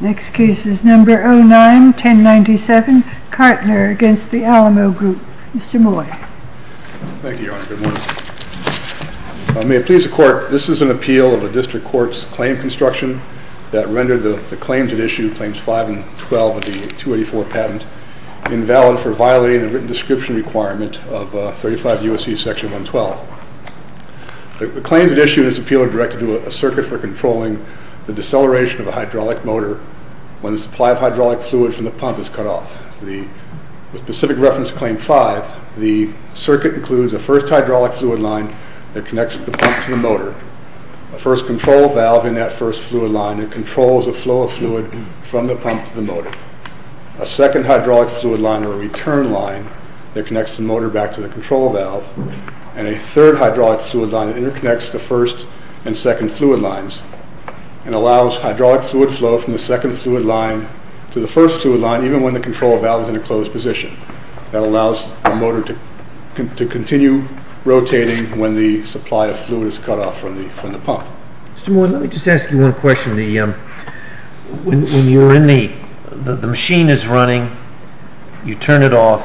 Next case is number 09-1097, Kartner against the Alamo Group. Mr. Moy. Thank you, Your Honor. Good morning. May it please the Court, this is an appeal of a district court's claim construction that rendered the claims at issue, claims 5 and 12 of the 284 patent, invalid for violating the written description requirement of 35 U.S.C. section 112. The claims at issue in this appeal are directed to a circuit for controlling the deceleration of a hydraulic motor when the supply of hydraulic fluid from the pump is cut off. The specific reference to claim 5, the circuit includes a first hydraulic fluid line that connects the pump to the motor, a first control valve in that first fluid line that controls the flow of fluid from the pump to the motor, a second hydraulic fluid line or return line that connects the motor back to the control valve, and a third hydraulic fluid line that the second fluid line to the first fluid line even when the control valve is in a closed position that allows the motor to continue rotating when the supply of fluid is cut off from the pump. Mr. Moy, let me just ask you one question, when you're in the, the machine is running, you turn it off,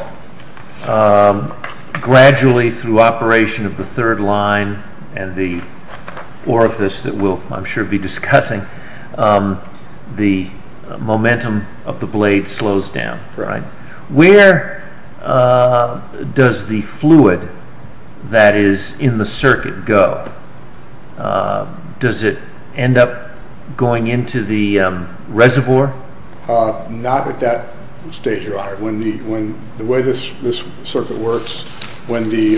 gradually through operation of the third line and the orifice that we'll I'm sure be discussing, the momentum of the blade slows down, where does the fluid that is in the circuit go? Does it end up going into the reservoir? Not at that stage your honor, when the, when the way this circuit works, when the,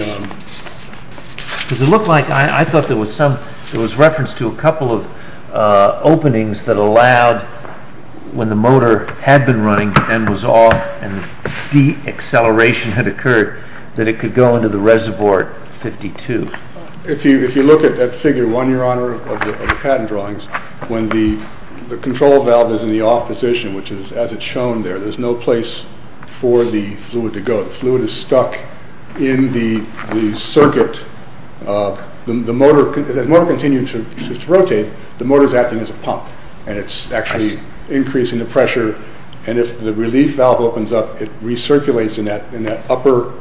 it looks like I thought there was some, it was referenced to a couple of openings that allowed when the motor had been running and was off and de-acceleration had occurred that it could go into the reservoir at 52. If you look at that figure one your honor of the patent drawings, when the control valve is in the off position which is as it's shown there, there's no place for the fluid to go, the fluid is stuck in the circuit, the motor, the motor continues to rotate, the motor is acting as a pump and it's actually increasing the pressure and if the relief valve opens up it recirculates in that, in that upper,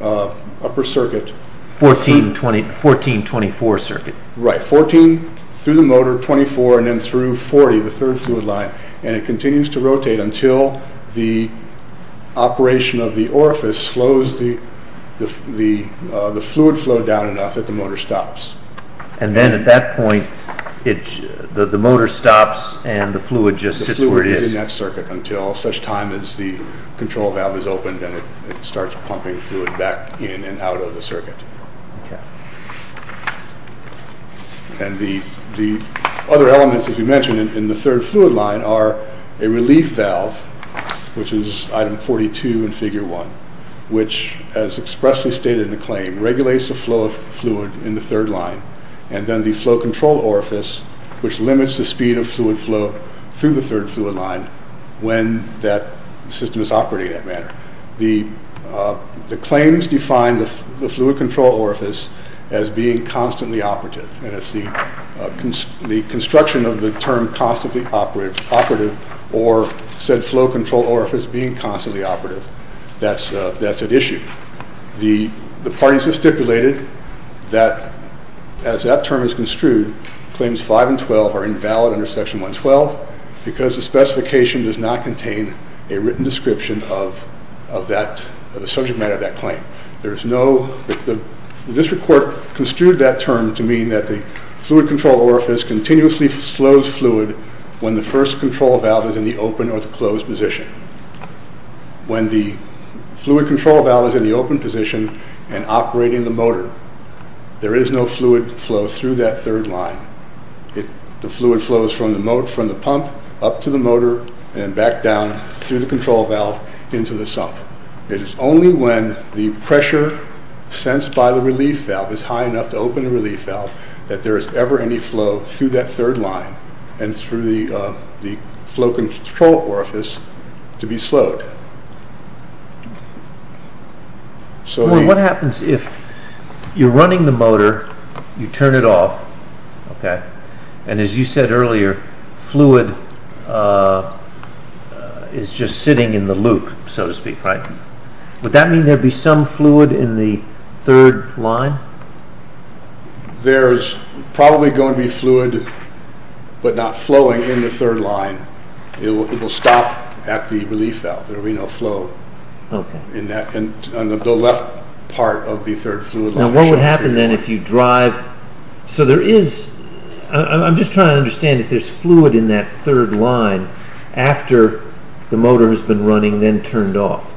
upper circuit. 14, 20, 14, 24 circuit. Right, 14 through the motor, 24 and then through 40, the third fluid line and it continues to rotate until the operation of the orifice slows the, the, the fluid flow down enough that the motor stops. And then at that point it, the motor stops and the fluid just hits where it is. The fluid is in that circuit until such time as the control valve is opened and it starts to rotate. And the, the other elements as you mentioned in the third fluid line are a relief valve which is item 42 in figure one which as expressly stated in the claim regulates the flow of fluid in the third line and then the flow control orifice which limits the speed of fluid flow through the third fluid line when that system is operating in that manner. The, the claims define the fluid control orifice as being constantly operative and as the construction of the term constantly operative or said flow control orifice being constantly operative that's, that's at issue. The parties have stipulated that as that term is construed claims five and twelve are invalid under section 112 because the specification does not contain a written description of, of that, the subject matter of that claim. There's no, the district court construed that term to mean that the fluid control orifice continuously slows fluid when the first control valve is in the open or the closed position. When the fluid control valve is in the open position and operating the motor there is no fluid flow through that third line. It, the fluid flows from the moat, from the pump up to the motor and back down through the control valve into the sump. It is only when the pressure sensed by the relief valve is high enough to open the relief valve that there is ever any flow through that third line and through the, the flow control orifice to be slowed. So, what happens if you're running the motor, you turn it off, okay, and as you said earlier fluid is just sitting in the loop so to speak, right? Would that mean there'd be some fluid in the third line? There's probably going to be fluid but not flowing in the third line. It will stop at the relief valve, there will be no flow in that, on the left part of the third fluid line. Now what would happen then if you drive, so there is, I'm just trying to understand if there's fluid in that third line after the motor has been running then turned off?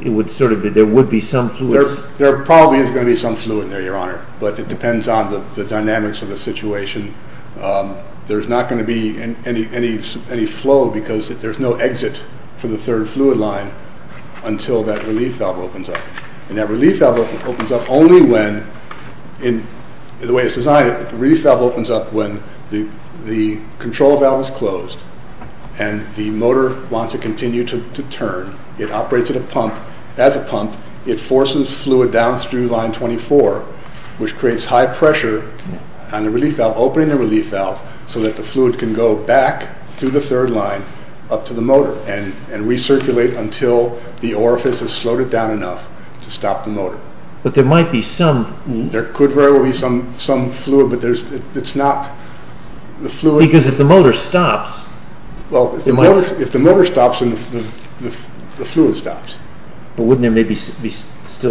It would sort of be, there would be some fluid? There probably is going to be some fluid in there, your honor, but it depends on the dynamics of the situation. There's not going to be any flow because there's no exit for the third fluid line until that relief valve opens up. And that relief valve opens up only when, in the way it's designed, the relief valve opens up when the control valve is closed and the motor wants to continue to turn. It operates at a pump, as a pump, it forces fluid down through line 24 which creates high pressure on the relief valve, opening the relief valve, so that the fluid can go back through the third line up to the motor and recirculate until the orifice has slowed it down enough to stop the motor. But there might be some... There could very well be some fluid but it's not, the fluid... Because if the motor stops... If the motor stops then the fluid stops. But wouldn't there maybe still be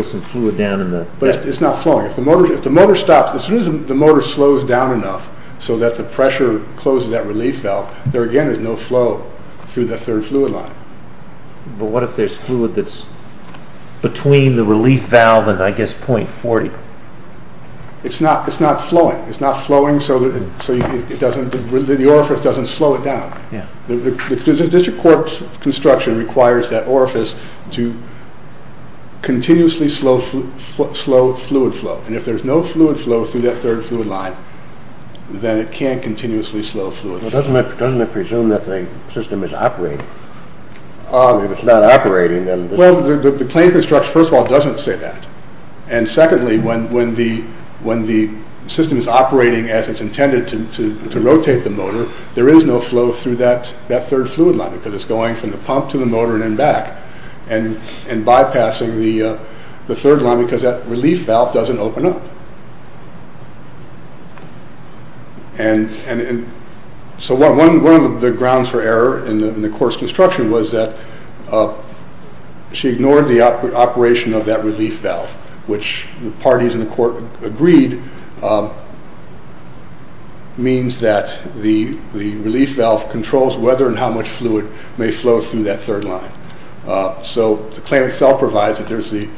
some fluid down in the... But it's not flowing. If the motor stops, as soon as the motor slows down enough so that the pressure closes that relief valve, there again is no flow through the third fluid line. But what if there's fluid that's between the relief valve and I guess point 40? It's not flowing. It's not flowing so that the orifice doesn't slow it down. The district corps construction requires that orifice to continuously slow fluid flow. And if there's no fluid flow through that third fluid line, then it can continuously slow fluid flow. Doesn't it presume that the system is operating? If it's not operating then... Well, the claim construction first of all doesn't say that. And secondly, when the system is operating as it's intended to rotate the motor, there is no flow through that third fluid line. Because it's going from the pump to the motor and then back. And bypassing the third line because that relief valve doesn't open up. And so one of the grounds for error in the corps construction was that she ignored the operation of that relief valve. Which the parties in the court agreed means that the relief valve controls whether and how much fluid may flow through that third line. So the claim itself provides that there's the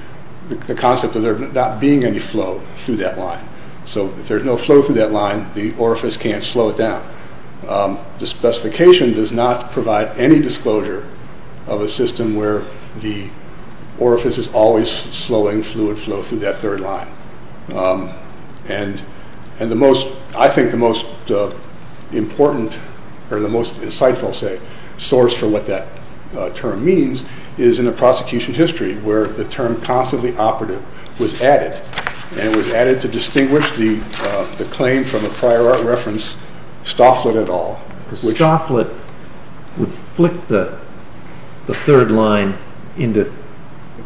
concept of there not being any flow through that line. So if there's no flow through that line, the orifice can't slow it down. The specification does not provide any disclosure of a system where the orifice is always slowing fluid flow through that third line. And the most, I think the most important or the most insightful source for what that term means is in the prosecution history where the term constantly operative was added. And it was added to distinguish the claim from a prior art reference, Stofflet et al. Stofflet would flip the third line into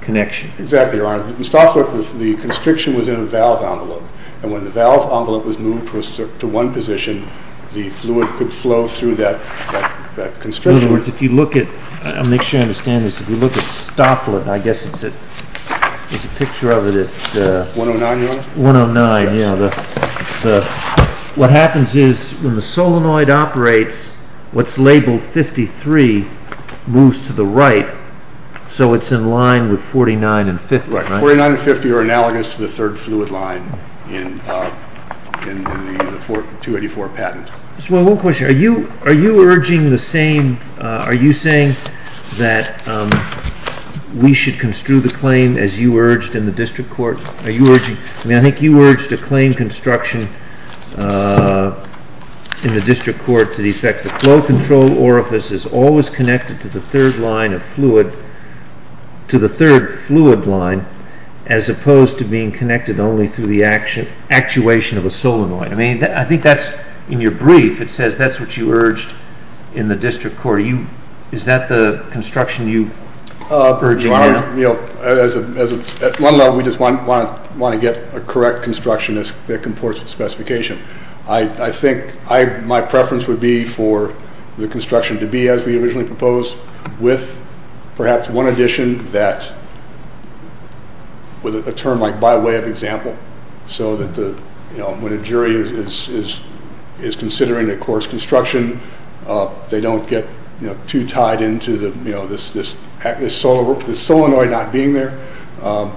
connection. Exactly, Your Honor. In Stofflet, the constriction was in a valve envelope. And when the valve envelope was moved to one position, the fluid could flow through that constriction. In other words, if you look at, I'll make sure you understand this, if you look at Stofflet, I guess it's a picture of it at... 109, Your Honor. 109, yeah. What happens is when the solenoid operates, what's labeled 53 moves to the right. So it's in line with 49 and 50, right? Right. 49 and 50 are analogous to the third fluid line in the 284 patent. Just one question. Are you urging the same, are you saying that we should construe the claim as you urged in the district court? Are you urging, I mean, I think you urged a claim construction in the district court to the effect that the flow control orifice is always connected to the third line of fluid, to the third fluid line, as opposed to being connected only through the actuation of a solenoid. I mean, I think that's, in your brief, it says that's what you urged in the district court. Is that the construction you're urging now? Your Honor, you know, at one level, we just want to get a correct construction that comports with specification. I think my preference would be for the construction to be as we originally proposed with perhaps one addition that, with a term like by way of example, so that the, you know, when a jury is considering a court's construction, they don't get too tied into the, you know, this solenoid not being there. The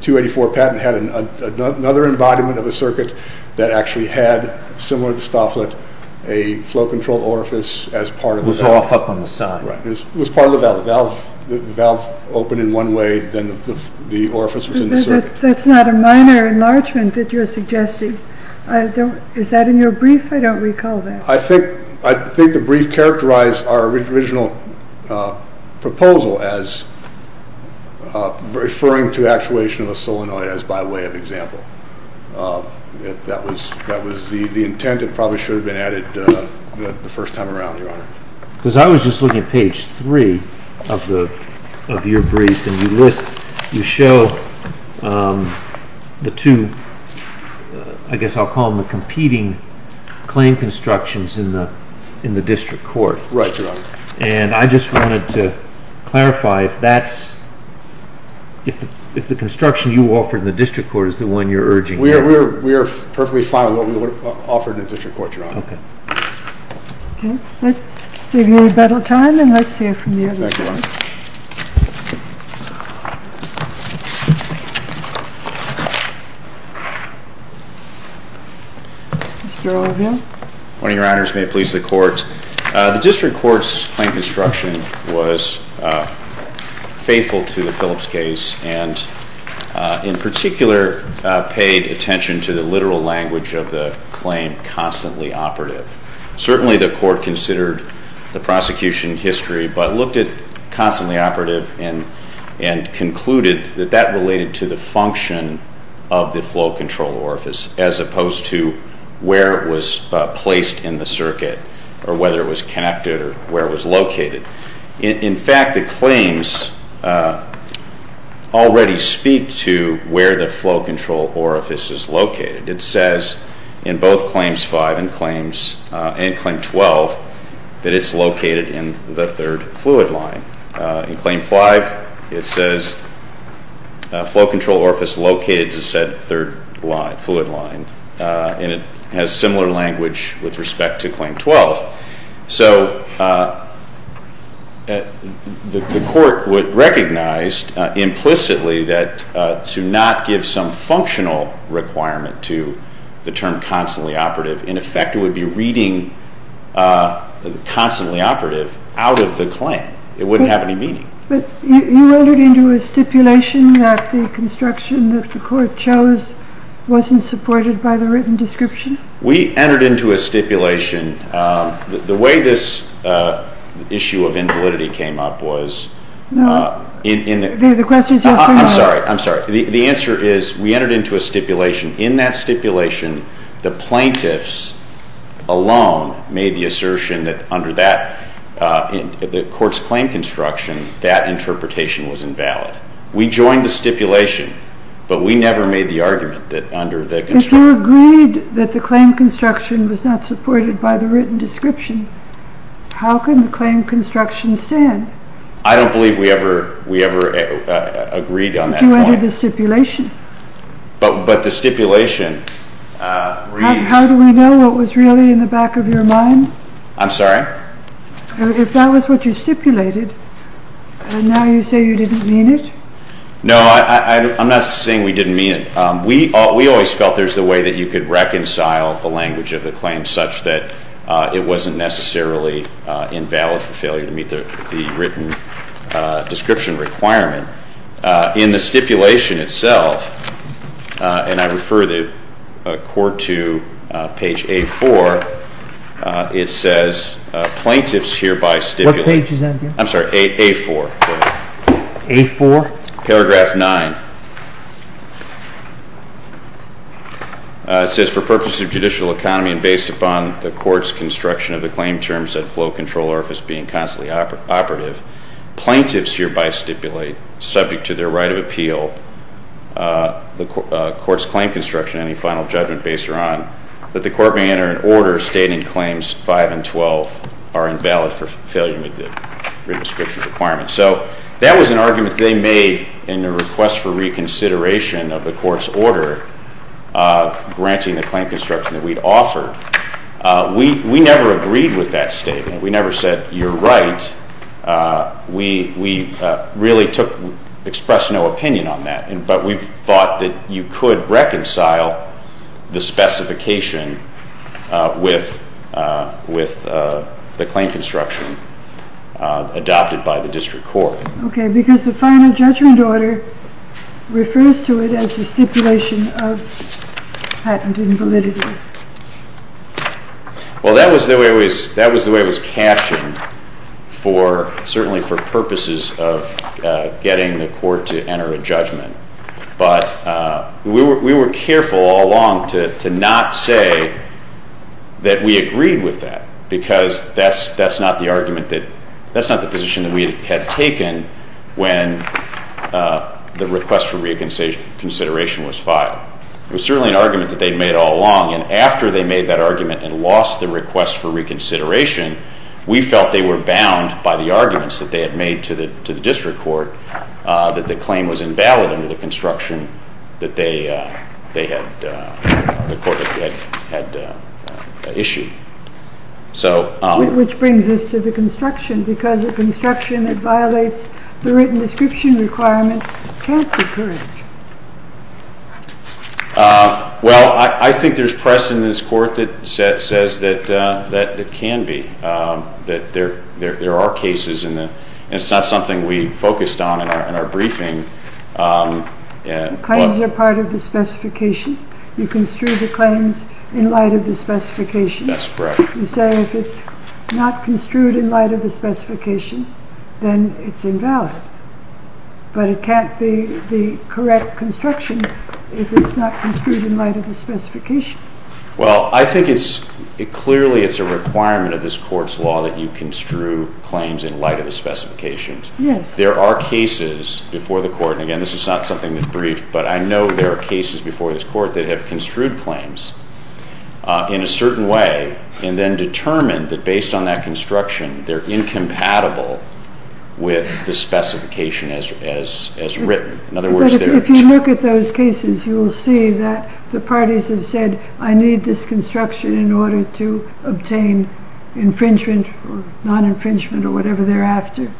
284 patent had another embodiment of a circuit that actually had, similar to Stofflet, a flow control orifice as part of the valve. It was all up on the side. Right. It was part of the valve. The valve opened in one way, then the orifice was inserted. That's not a minor enlargement that you're suggesting. I don't, is that in your brief? I don't recall that. I think the brief characterized our original proposal as referring to actuation of a solenoid as by way of example. That was the intent. It probably should have been added the first time around, Your Honor. Because I was just looking at page 3 of your brief, and you list, you show the two, I guess I'll call them the competing claim constructions in the district court. Right, Your Honor. And I just wanted to clarify if that's, if the construction you offered in the district court is the one you're urging. We are perfectly fine with what we offered in the district court, Your Honor. Okay. Let's save me a little time and let's hear from the other side. Thank you, Your Honor. Mr. O'Rourke. Good morning, Your Honors. May it please the Court. The district court's claim construction was faithful to the Phillips case, and in particular paid attention to the literal language of the claim, constantly operative. Certainly the court considered the prosecution history, but looked at constantly operative and concluded that that related to the function of the flow control orifice, as opposed to where it was placed in the circuit, or whether it was connected or where it was located. In fact, the claims already speak to where the flow control orifice is located. It says in both Claims 5 and Claim 12 that it's located in the third fluid line. In Claim 5, it says flow control orifice located to said third fluid line. And it has similar language with respect to Claim 12. So the court would recognize implicitly that to not give some functional requirement to the term constantly operative, in effect it would be reading constantly operative out of the claim. It wouldn't have any meaning. But you entered into a stipulation that the construction that the court chose wasn't supported by the written description? We entered into a stipulation. The way this issue of invalidity came up was... The question is... I'm sorry, I'm sorry. The answer is we entered into a stipulation. In that stipulation, the plaintiffs alone made the assertion that under that, the court's claim construction, that interpretation was invalid. We joined the stipulation, but we never made the argument that under the construction... If you agreed that the claim construction was not supported by the written description, how can the claim construction stand? I don't believe we ever agreed on that point. You entered the stipulation. But the stipulation reads... How do we know what was really in the back of your mind? I'm sorry? If that was what you stipulated, and now you say you didn't mean it? No, I'm not saying we didn't mean it. We always felt there's a way that you could reconcile the language of the claim such that it wasn't necessarily invalid for failure to meet the written description requirement. In the stipulation itself, and I refer the court to page A4, it says, plaintiffs hereby stipulate... What page is that? I'm sorry, A4. A4? Paragraph 9. It says, for purposes of judicial economy and based upon the court's construction of the claim terms and flow control orifice being constantly operative, plaintiffs hereby stipulate, subject to their right of appeal, the court's claim construction, any final judgment based on, that the court may enter an order stating claims 5 and 12 are invalid for failure to meet the written description requirement. So that was an argument they made in their request for reconsideration of the court's order granting the claim construction that we'd offered. We never agreed with that statement. We never said, you're right. We really expressed no opinion on that. But we thought that you could reconcile the specification with the claim construction adopted by the district court. Okay, because the final judgment order refers to it as a stipulation of patent invalidity. Well, that was the way it was captioned, certainly for purposes of getting the court to enter a judgment. But we were careful all along to not say that we agreed with that because that's not the argument that, that's not the position that we had taken when the request for reconsideration was filed. It was certainly an argument that they'd made all along and after they made that argument and lost the request for reconsideration, we felt they were bound by the arguments that they had made to the district court that the claim was invalid under the construction that they had, the court had issued. Which brings us to the construction because a construction that violates the written description requirement can't be purchased. Well, I think there's press in this court that says that it can be, that there are cases and it's not something we focused on in our briefing. Claims are part of the specification. You construe the claims in light of the specification. That's correct. You say if it's not construed in light of the specification, then it's invalid. But it can't be the correct construction if it's not construed in light of the specification. Well, I think it's, clearly it's a requirement of this court's law that you construe claims in light of the specifications. Yes. There are cases before the court, and again this is not something that's briefed, but I know there are cases before this court that have construed claims in a certain way and then determined that based on that construction they're incompatible with the specification as written. In other words, they're... If you look at those cases, you'll see that the parties have said I need this construction in order to obtain infringement or non-infringement or whatever they're after.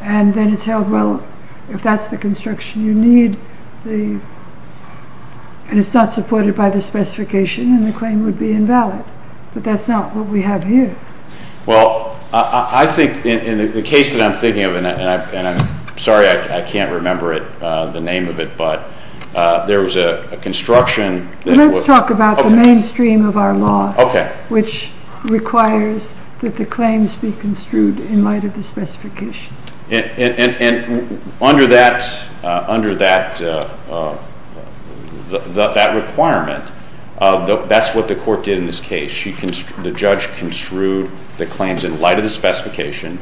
And then it's held, well, if that's the construction you need, and it's not supported by the specification, then the claim would be invalid. But that's not what we have here. Well, I think in the case that I'm thinking of, and I'm sorry I can't remember the name of it, but there was a construction... Let's talk about the mainstream of our law, which requires that the claims be construed in light of the specification. And under that requirement, that's what the court did in this case. The judge construed the claims in light of the specification,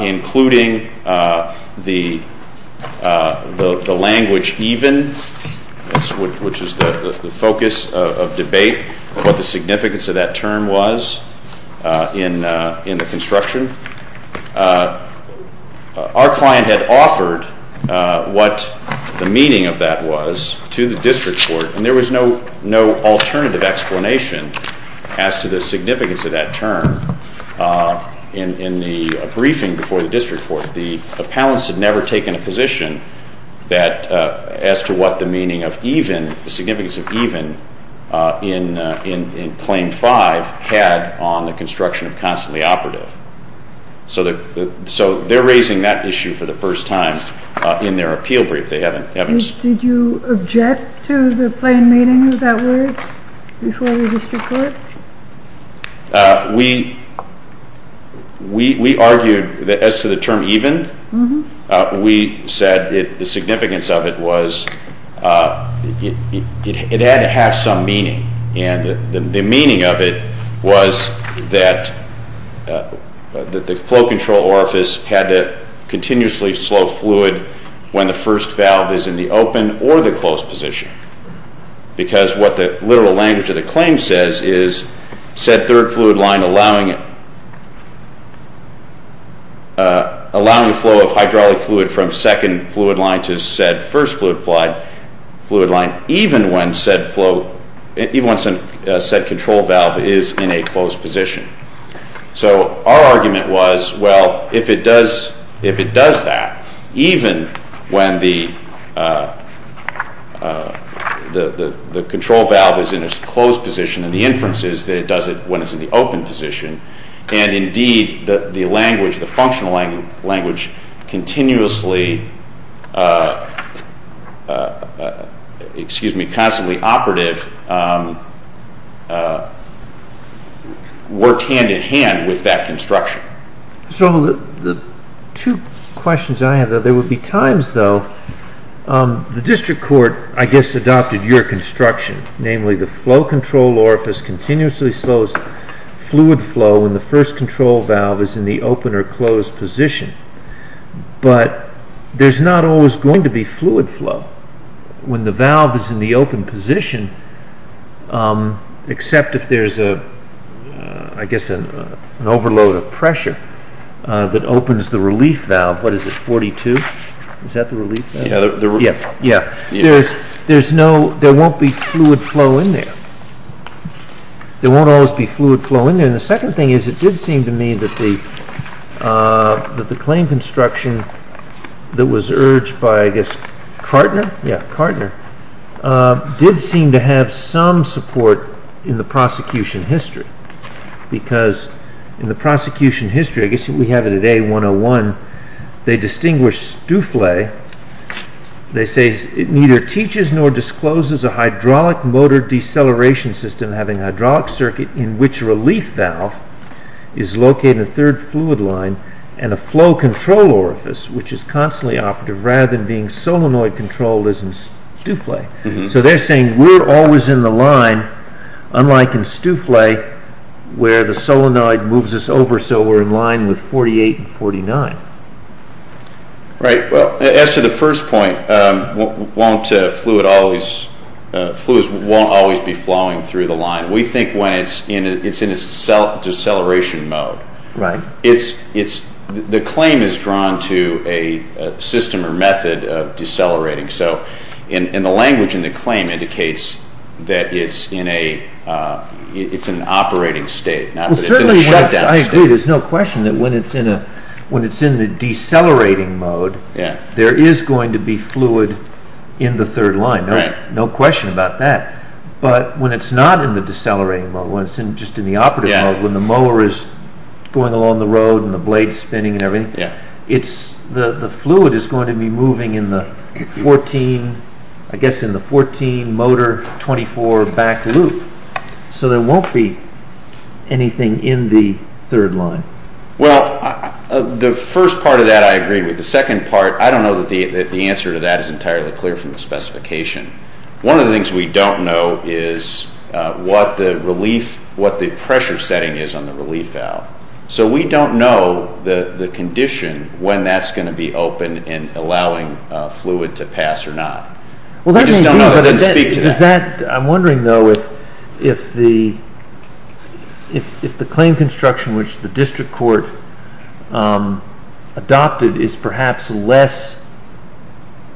including the language even, which is the focus of debate, what the significance of that term was in the construction. Our client had offered what the meaning of that was to the district court, and there was no alternative explanation as to the significance of that term in the briefing before the district court. The appellants had never taken a position as to what the meaning of even, the significance of even, in Claim 5 had on the construction of constantly operative. So they're raising that issue for the first time in their appeal brief. Did you object to the plain meaning of that word before the district court? We argued that as to the term even, we said the significance of it was it had to have some meaning, and the meaning of it was that the flow control orifice had to continuously slow fluid when the first valve is in the open or the closed position. Because what the literal language of the claim says is, said third fluid line allowing a flow of hydraulic fluid from second fluid line to said first fluid line, even when said control valve is in a closed position. So our argument was, well, if it does that, even when the control valve is in its closed position and the inference is that it does it when it's in the open position, and indeed the language, the functional language, continuously, excuse me, constantly operative, worked hand in hand with that construction. So the two questions I have, there would be times though, the district court, I guess, adopted your construction, namely the flow control orifice continuously slows fluid flow when the first control valve is in the open or closed position, but there's not always going to be fluid flow when the valve is in the open position, except if there's, I guess, an overload of pressure that opens the relief valve, what is it, 42? Is that the relief valve? There won't be fluid flow in there. There won't always be fluid flow in there. And the second thing is, it did seem to me that the claim construction that was urged by, I guess, Kartner, yeah, Kartner, did seem to have some support in the prosecution history, because in the prosecution history, I guess we have it at A101, they distinguish Stouffle, they say, it neither teaches nor discloses a hydraulic motor deceleration system having a hydraulic circuit in which a relief valve is located in the third fluid line and a flow control orifice, which is constantly operative, rather than being solenoid control, as in Stouffle. So they're saying we're always in the line, unlike in Stouffle, where the solenoid moves us over, so we're in line with 48 and 49. Right, well, as to the first point, fluids won't always be flowing through the line. We think when it's in its deceleration mode. The claim is drawn to a system or method of decelerating, and the language in the claim indicates that it's in an operating state, not that it's in a shutdown state. I agree, there's no question that when it's in the decelerating mode, there is going to be fluid in the third line, no question about that. But when it's not in the decelerating mode, when it's just in the operative mode, when the mower is going along the road and the blade is spinning and everything, the fluid is going to be moving in the 14 motor 24 back loop, so there won't be anything in the third line. Well, the first part of that I agree with. The second part, I don't know that the answer to that is entirely clear from the specification. One of the things we don't know is what the pressure setting is on the relief valve. So we don't know the condition, when that's going to be open and allowing fluid to pass or not. We just don't know, we didn't speak to that. I'm wondering, though, if the claim construction which the district court adopted is perhaps less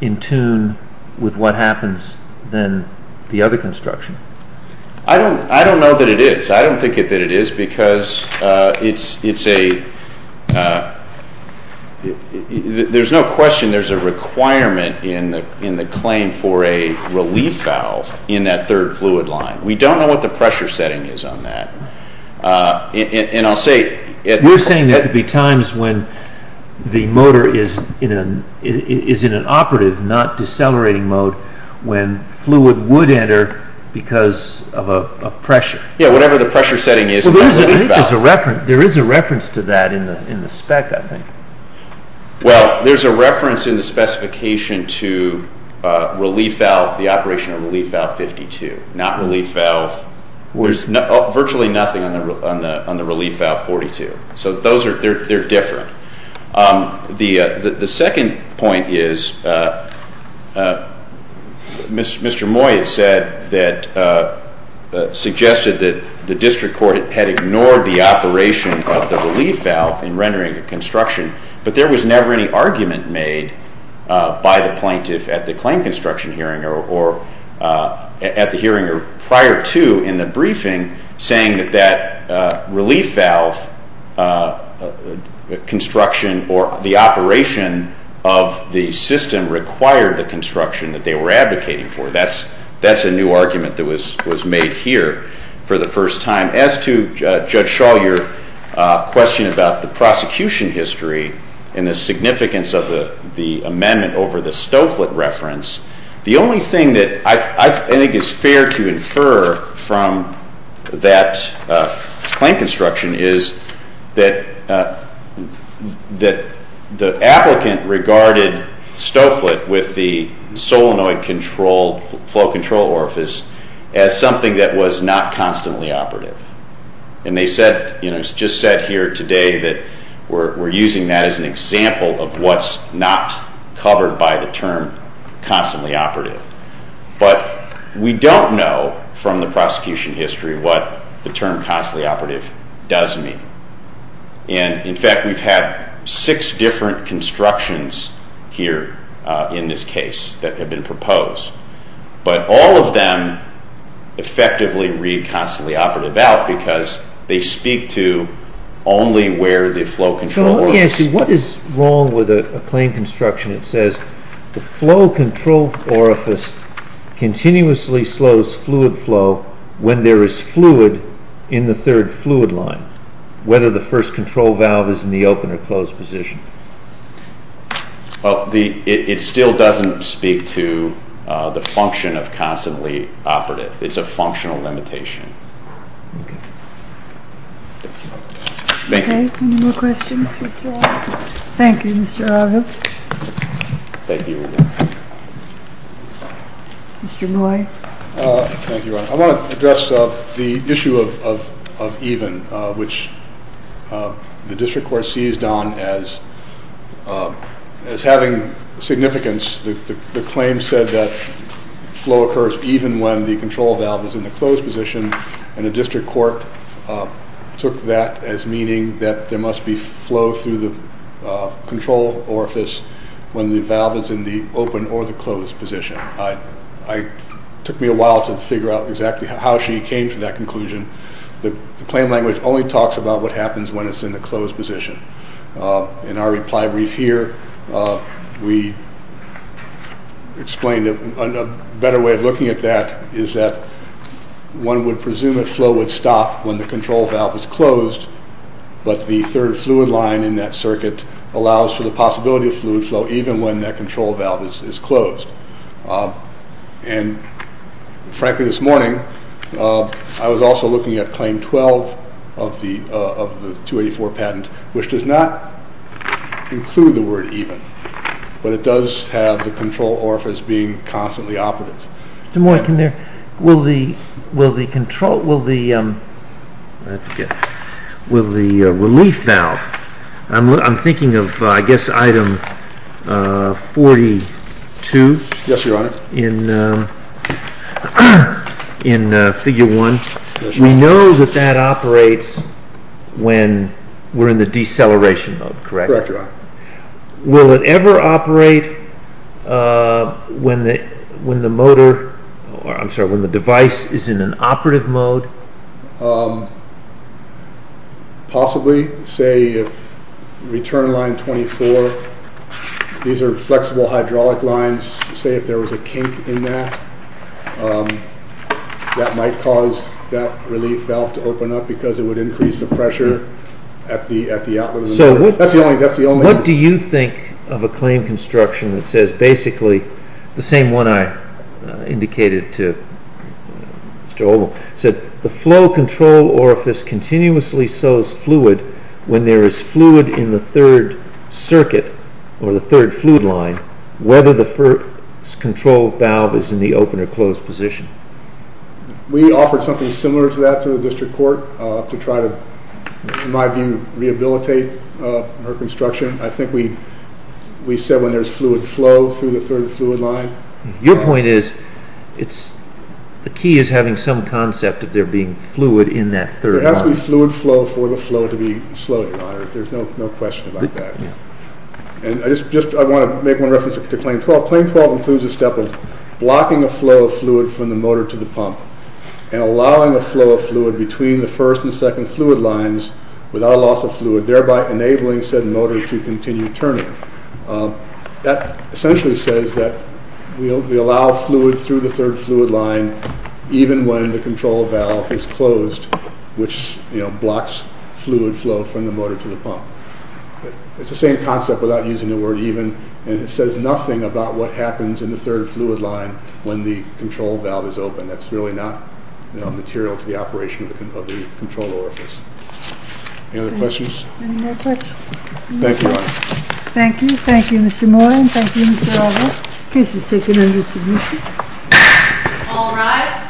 in tune with what happens than the other construction. I don't know that it is. I don't think that it is because it's a, there's no question there's a requirement in the claim for a relief valve in that third fluid line. We don't know what the pressure setting is on that. We're saying there could be times when the motor is in an operative, not decelerating mode, when fluid would enter because of a pressure. Yeah, whatever the pressure setting is in that relief valve. There is a reference to that in the spec, I think. Well, there's a reference in the specification to relief valve, the operation of relief valve 52, not relief valve, there's virtually nothing on the relief valve 42. So those are, they're different. The second point is, Mr. Moy said that, suggested that the district court had ignored the operation of the relief valve in rendering a construction, but there was never any argument made by the plaintiff at the claim construction hearing or at the hearing prior to in the briefing saying that that relief valve construction or the operation of the system required the construction that they were advocating for. That's a new argument that was made here for the first time. As to Judge Shaw, your question about the prosecution history and the significance of the amendment over the Stoufflet reference, the only thing that I think is fair to infer from that claim construction is that the applicant regarded Stoufflet with the solenoid control, flow control orifice as something that was not constantly operative. And they said, you know, it's just said here today that we're using that as an example of what's not covered by the term constantly operative. But we don't know from the prosecution history what the term constantly operative does mean. And, in fact, we've had six different constructions here in this case that have been proposed. But all of them effectively read constantly operative out because they speak to only where the flow control orifice... So let me ask you, what is wrong with a claim construction that says the flow control orifice continuously slows fluid flow when there is fluid in the third fluid line, whether the first control valve is in the open or closed position? Well, it still doesn't speak to the function of constantly operative. It's a functional limitation. Thank you. Any more questions for Mr. Arjo? Thank you, Mr. Arjo. Thank you. Mr. Moy. Thank you, Ron. I want to address the issue of even, which the district court seized on as having significance. The claim said that flow occurs even when the control valve is in the closed position. And the district court took that as meaning that there must be flow through the control orifice when the valve is in the open or the closed position. It took me a while to figure out exactly how she came to that conclusion. The claim language only talks about what happens when it's in the closed position. In our reply brief here, we explained a better way of looking at that is that one would presume that flow would stop when the control valve is closed, but the third fluid line in that circuit allows for the possibility of fluid flow even when that control valve is closed. And frankly, this morning, I was also looking at claim 12 of the 284 patent, which does not include the word even, but it does have the control orifice being constantly operative. Mr. Moy, will the relief valve, I'm thinking of, I guess, item 42. Yes, Your Honor. In figure 1, we know that that operates when we're in the deceleration mode, correct? Correct, Your Honor. Will it ever operate when the device is in an operative mode? Possibly, say if return line 24, these are flexible hydraulic lines. Say if there was a kink in that, that might cause that relief valve to open up because it would increase the pressure at the outlet. That's the only... What do you think of a claim construction that says basically the same one I indicated to Mr. Oldham, said the flow control orifice continuously sews fluid when there is fluid in the third circuit or the third fluid line, whether the control valve is in the open or closed position. We offered something similar to that to the district court to try to, in my view, rehabilitate our construction. I think we said when there's fluid flow through the third fluid line. Your point is the key is having some concept of there being fluid in that third line. There has to be fluid flow for the flow to be slow, Your Honor. There's no question about that. I want to make one reference to Claim 12. Claim 12 includes a step of blocking a flow of fluid from the motor to the pump and allowing a flow of fluid between the first and second fluid lines without a loss of fluid, thereby enabling said motor to continue turning. That essentially says that we allow fluid through the third fluid line even when the control valve is closed, which blocks fluid flow from the motor to the pump. It's the same concept without using the word even, and it says nothing about what happens in the third fluid line when the control valve is open. That's really not material to the operation of the control orifice. Any other questions? Any more questions? Thank you, Your Honor. Thank you. Thank you, Mr. Moore, and thank you, Mr. Aldrich. Case is taken under submission. All rise.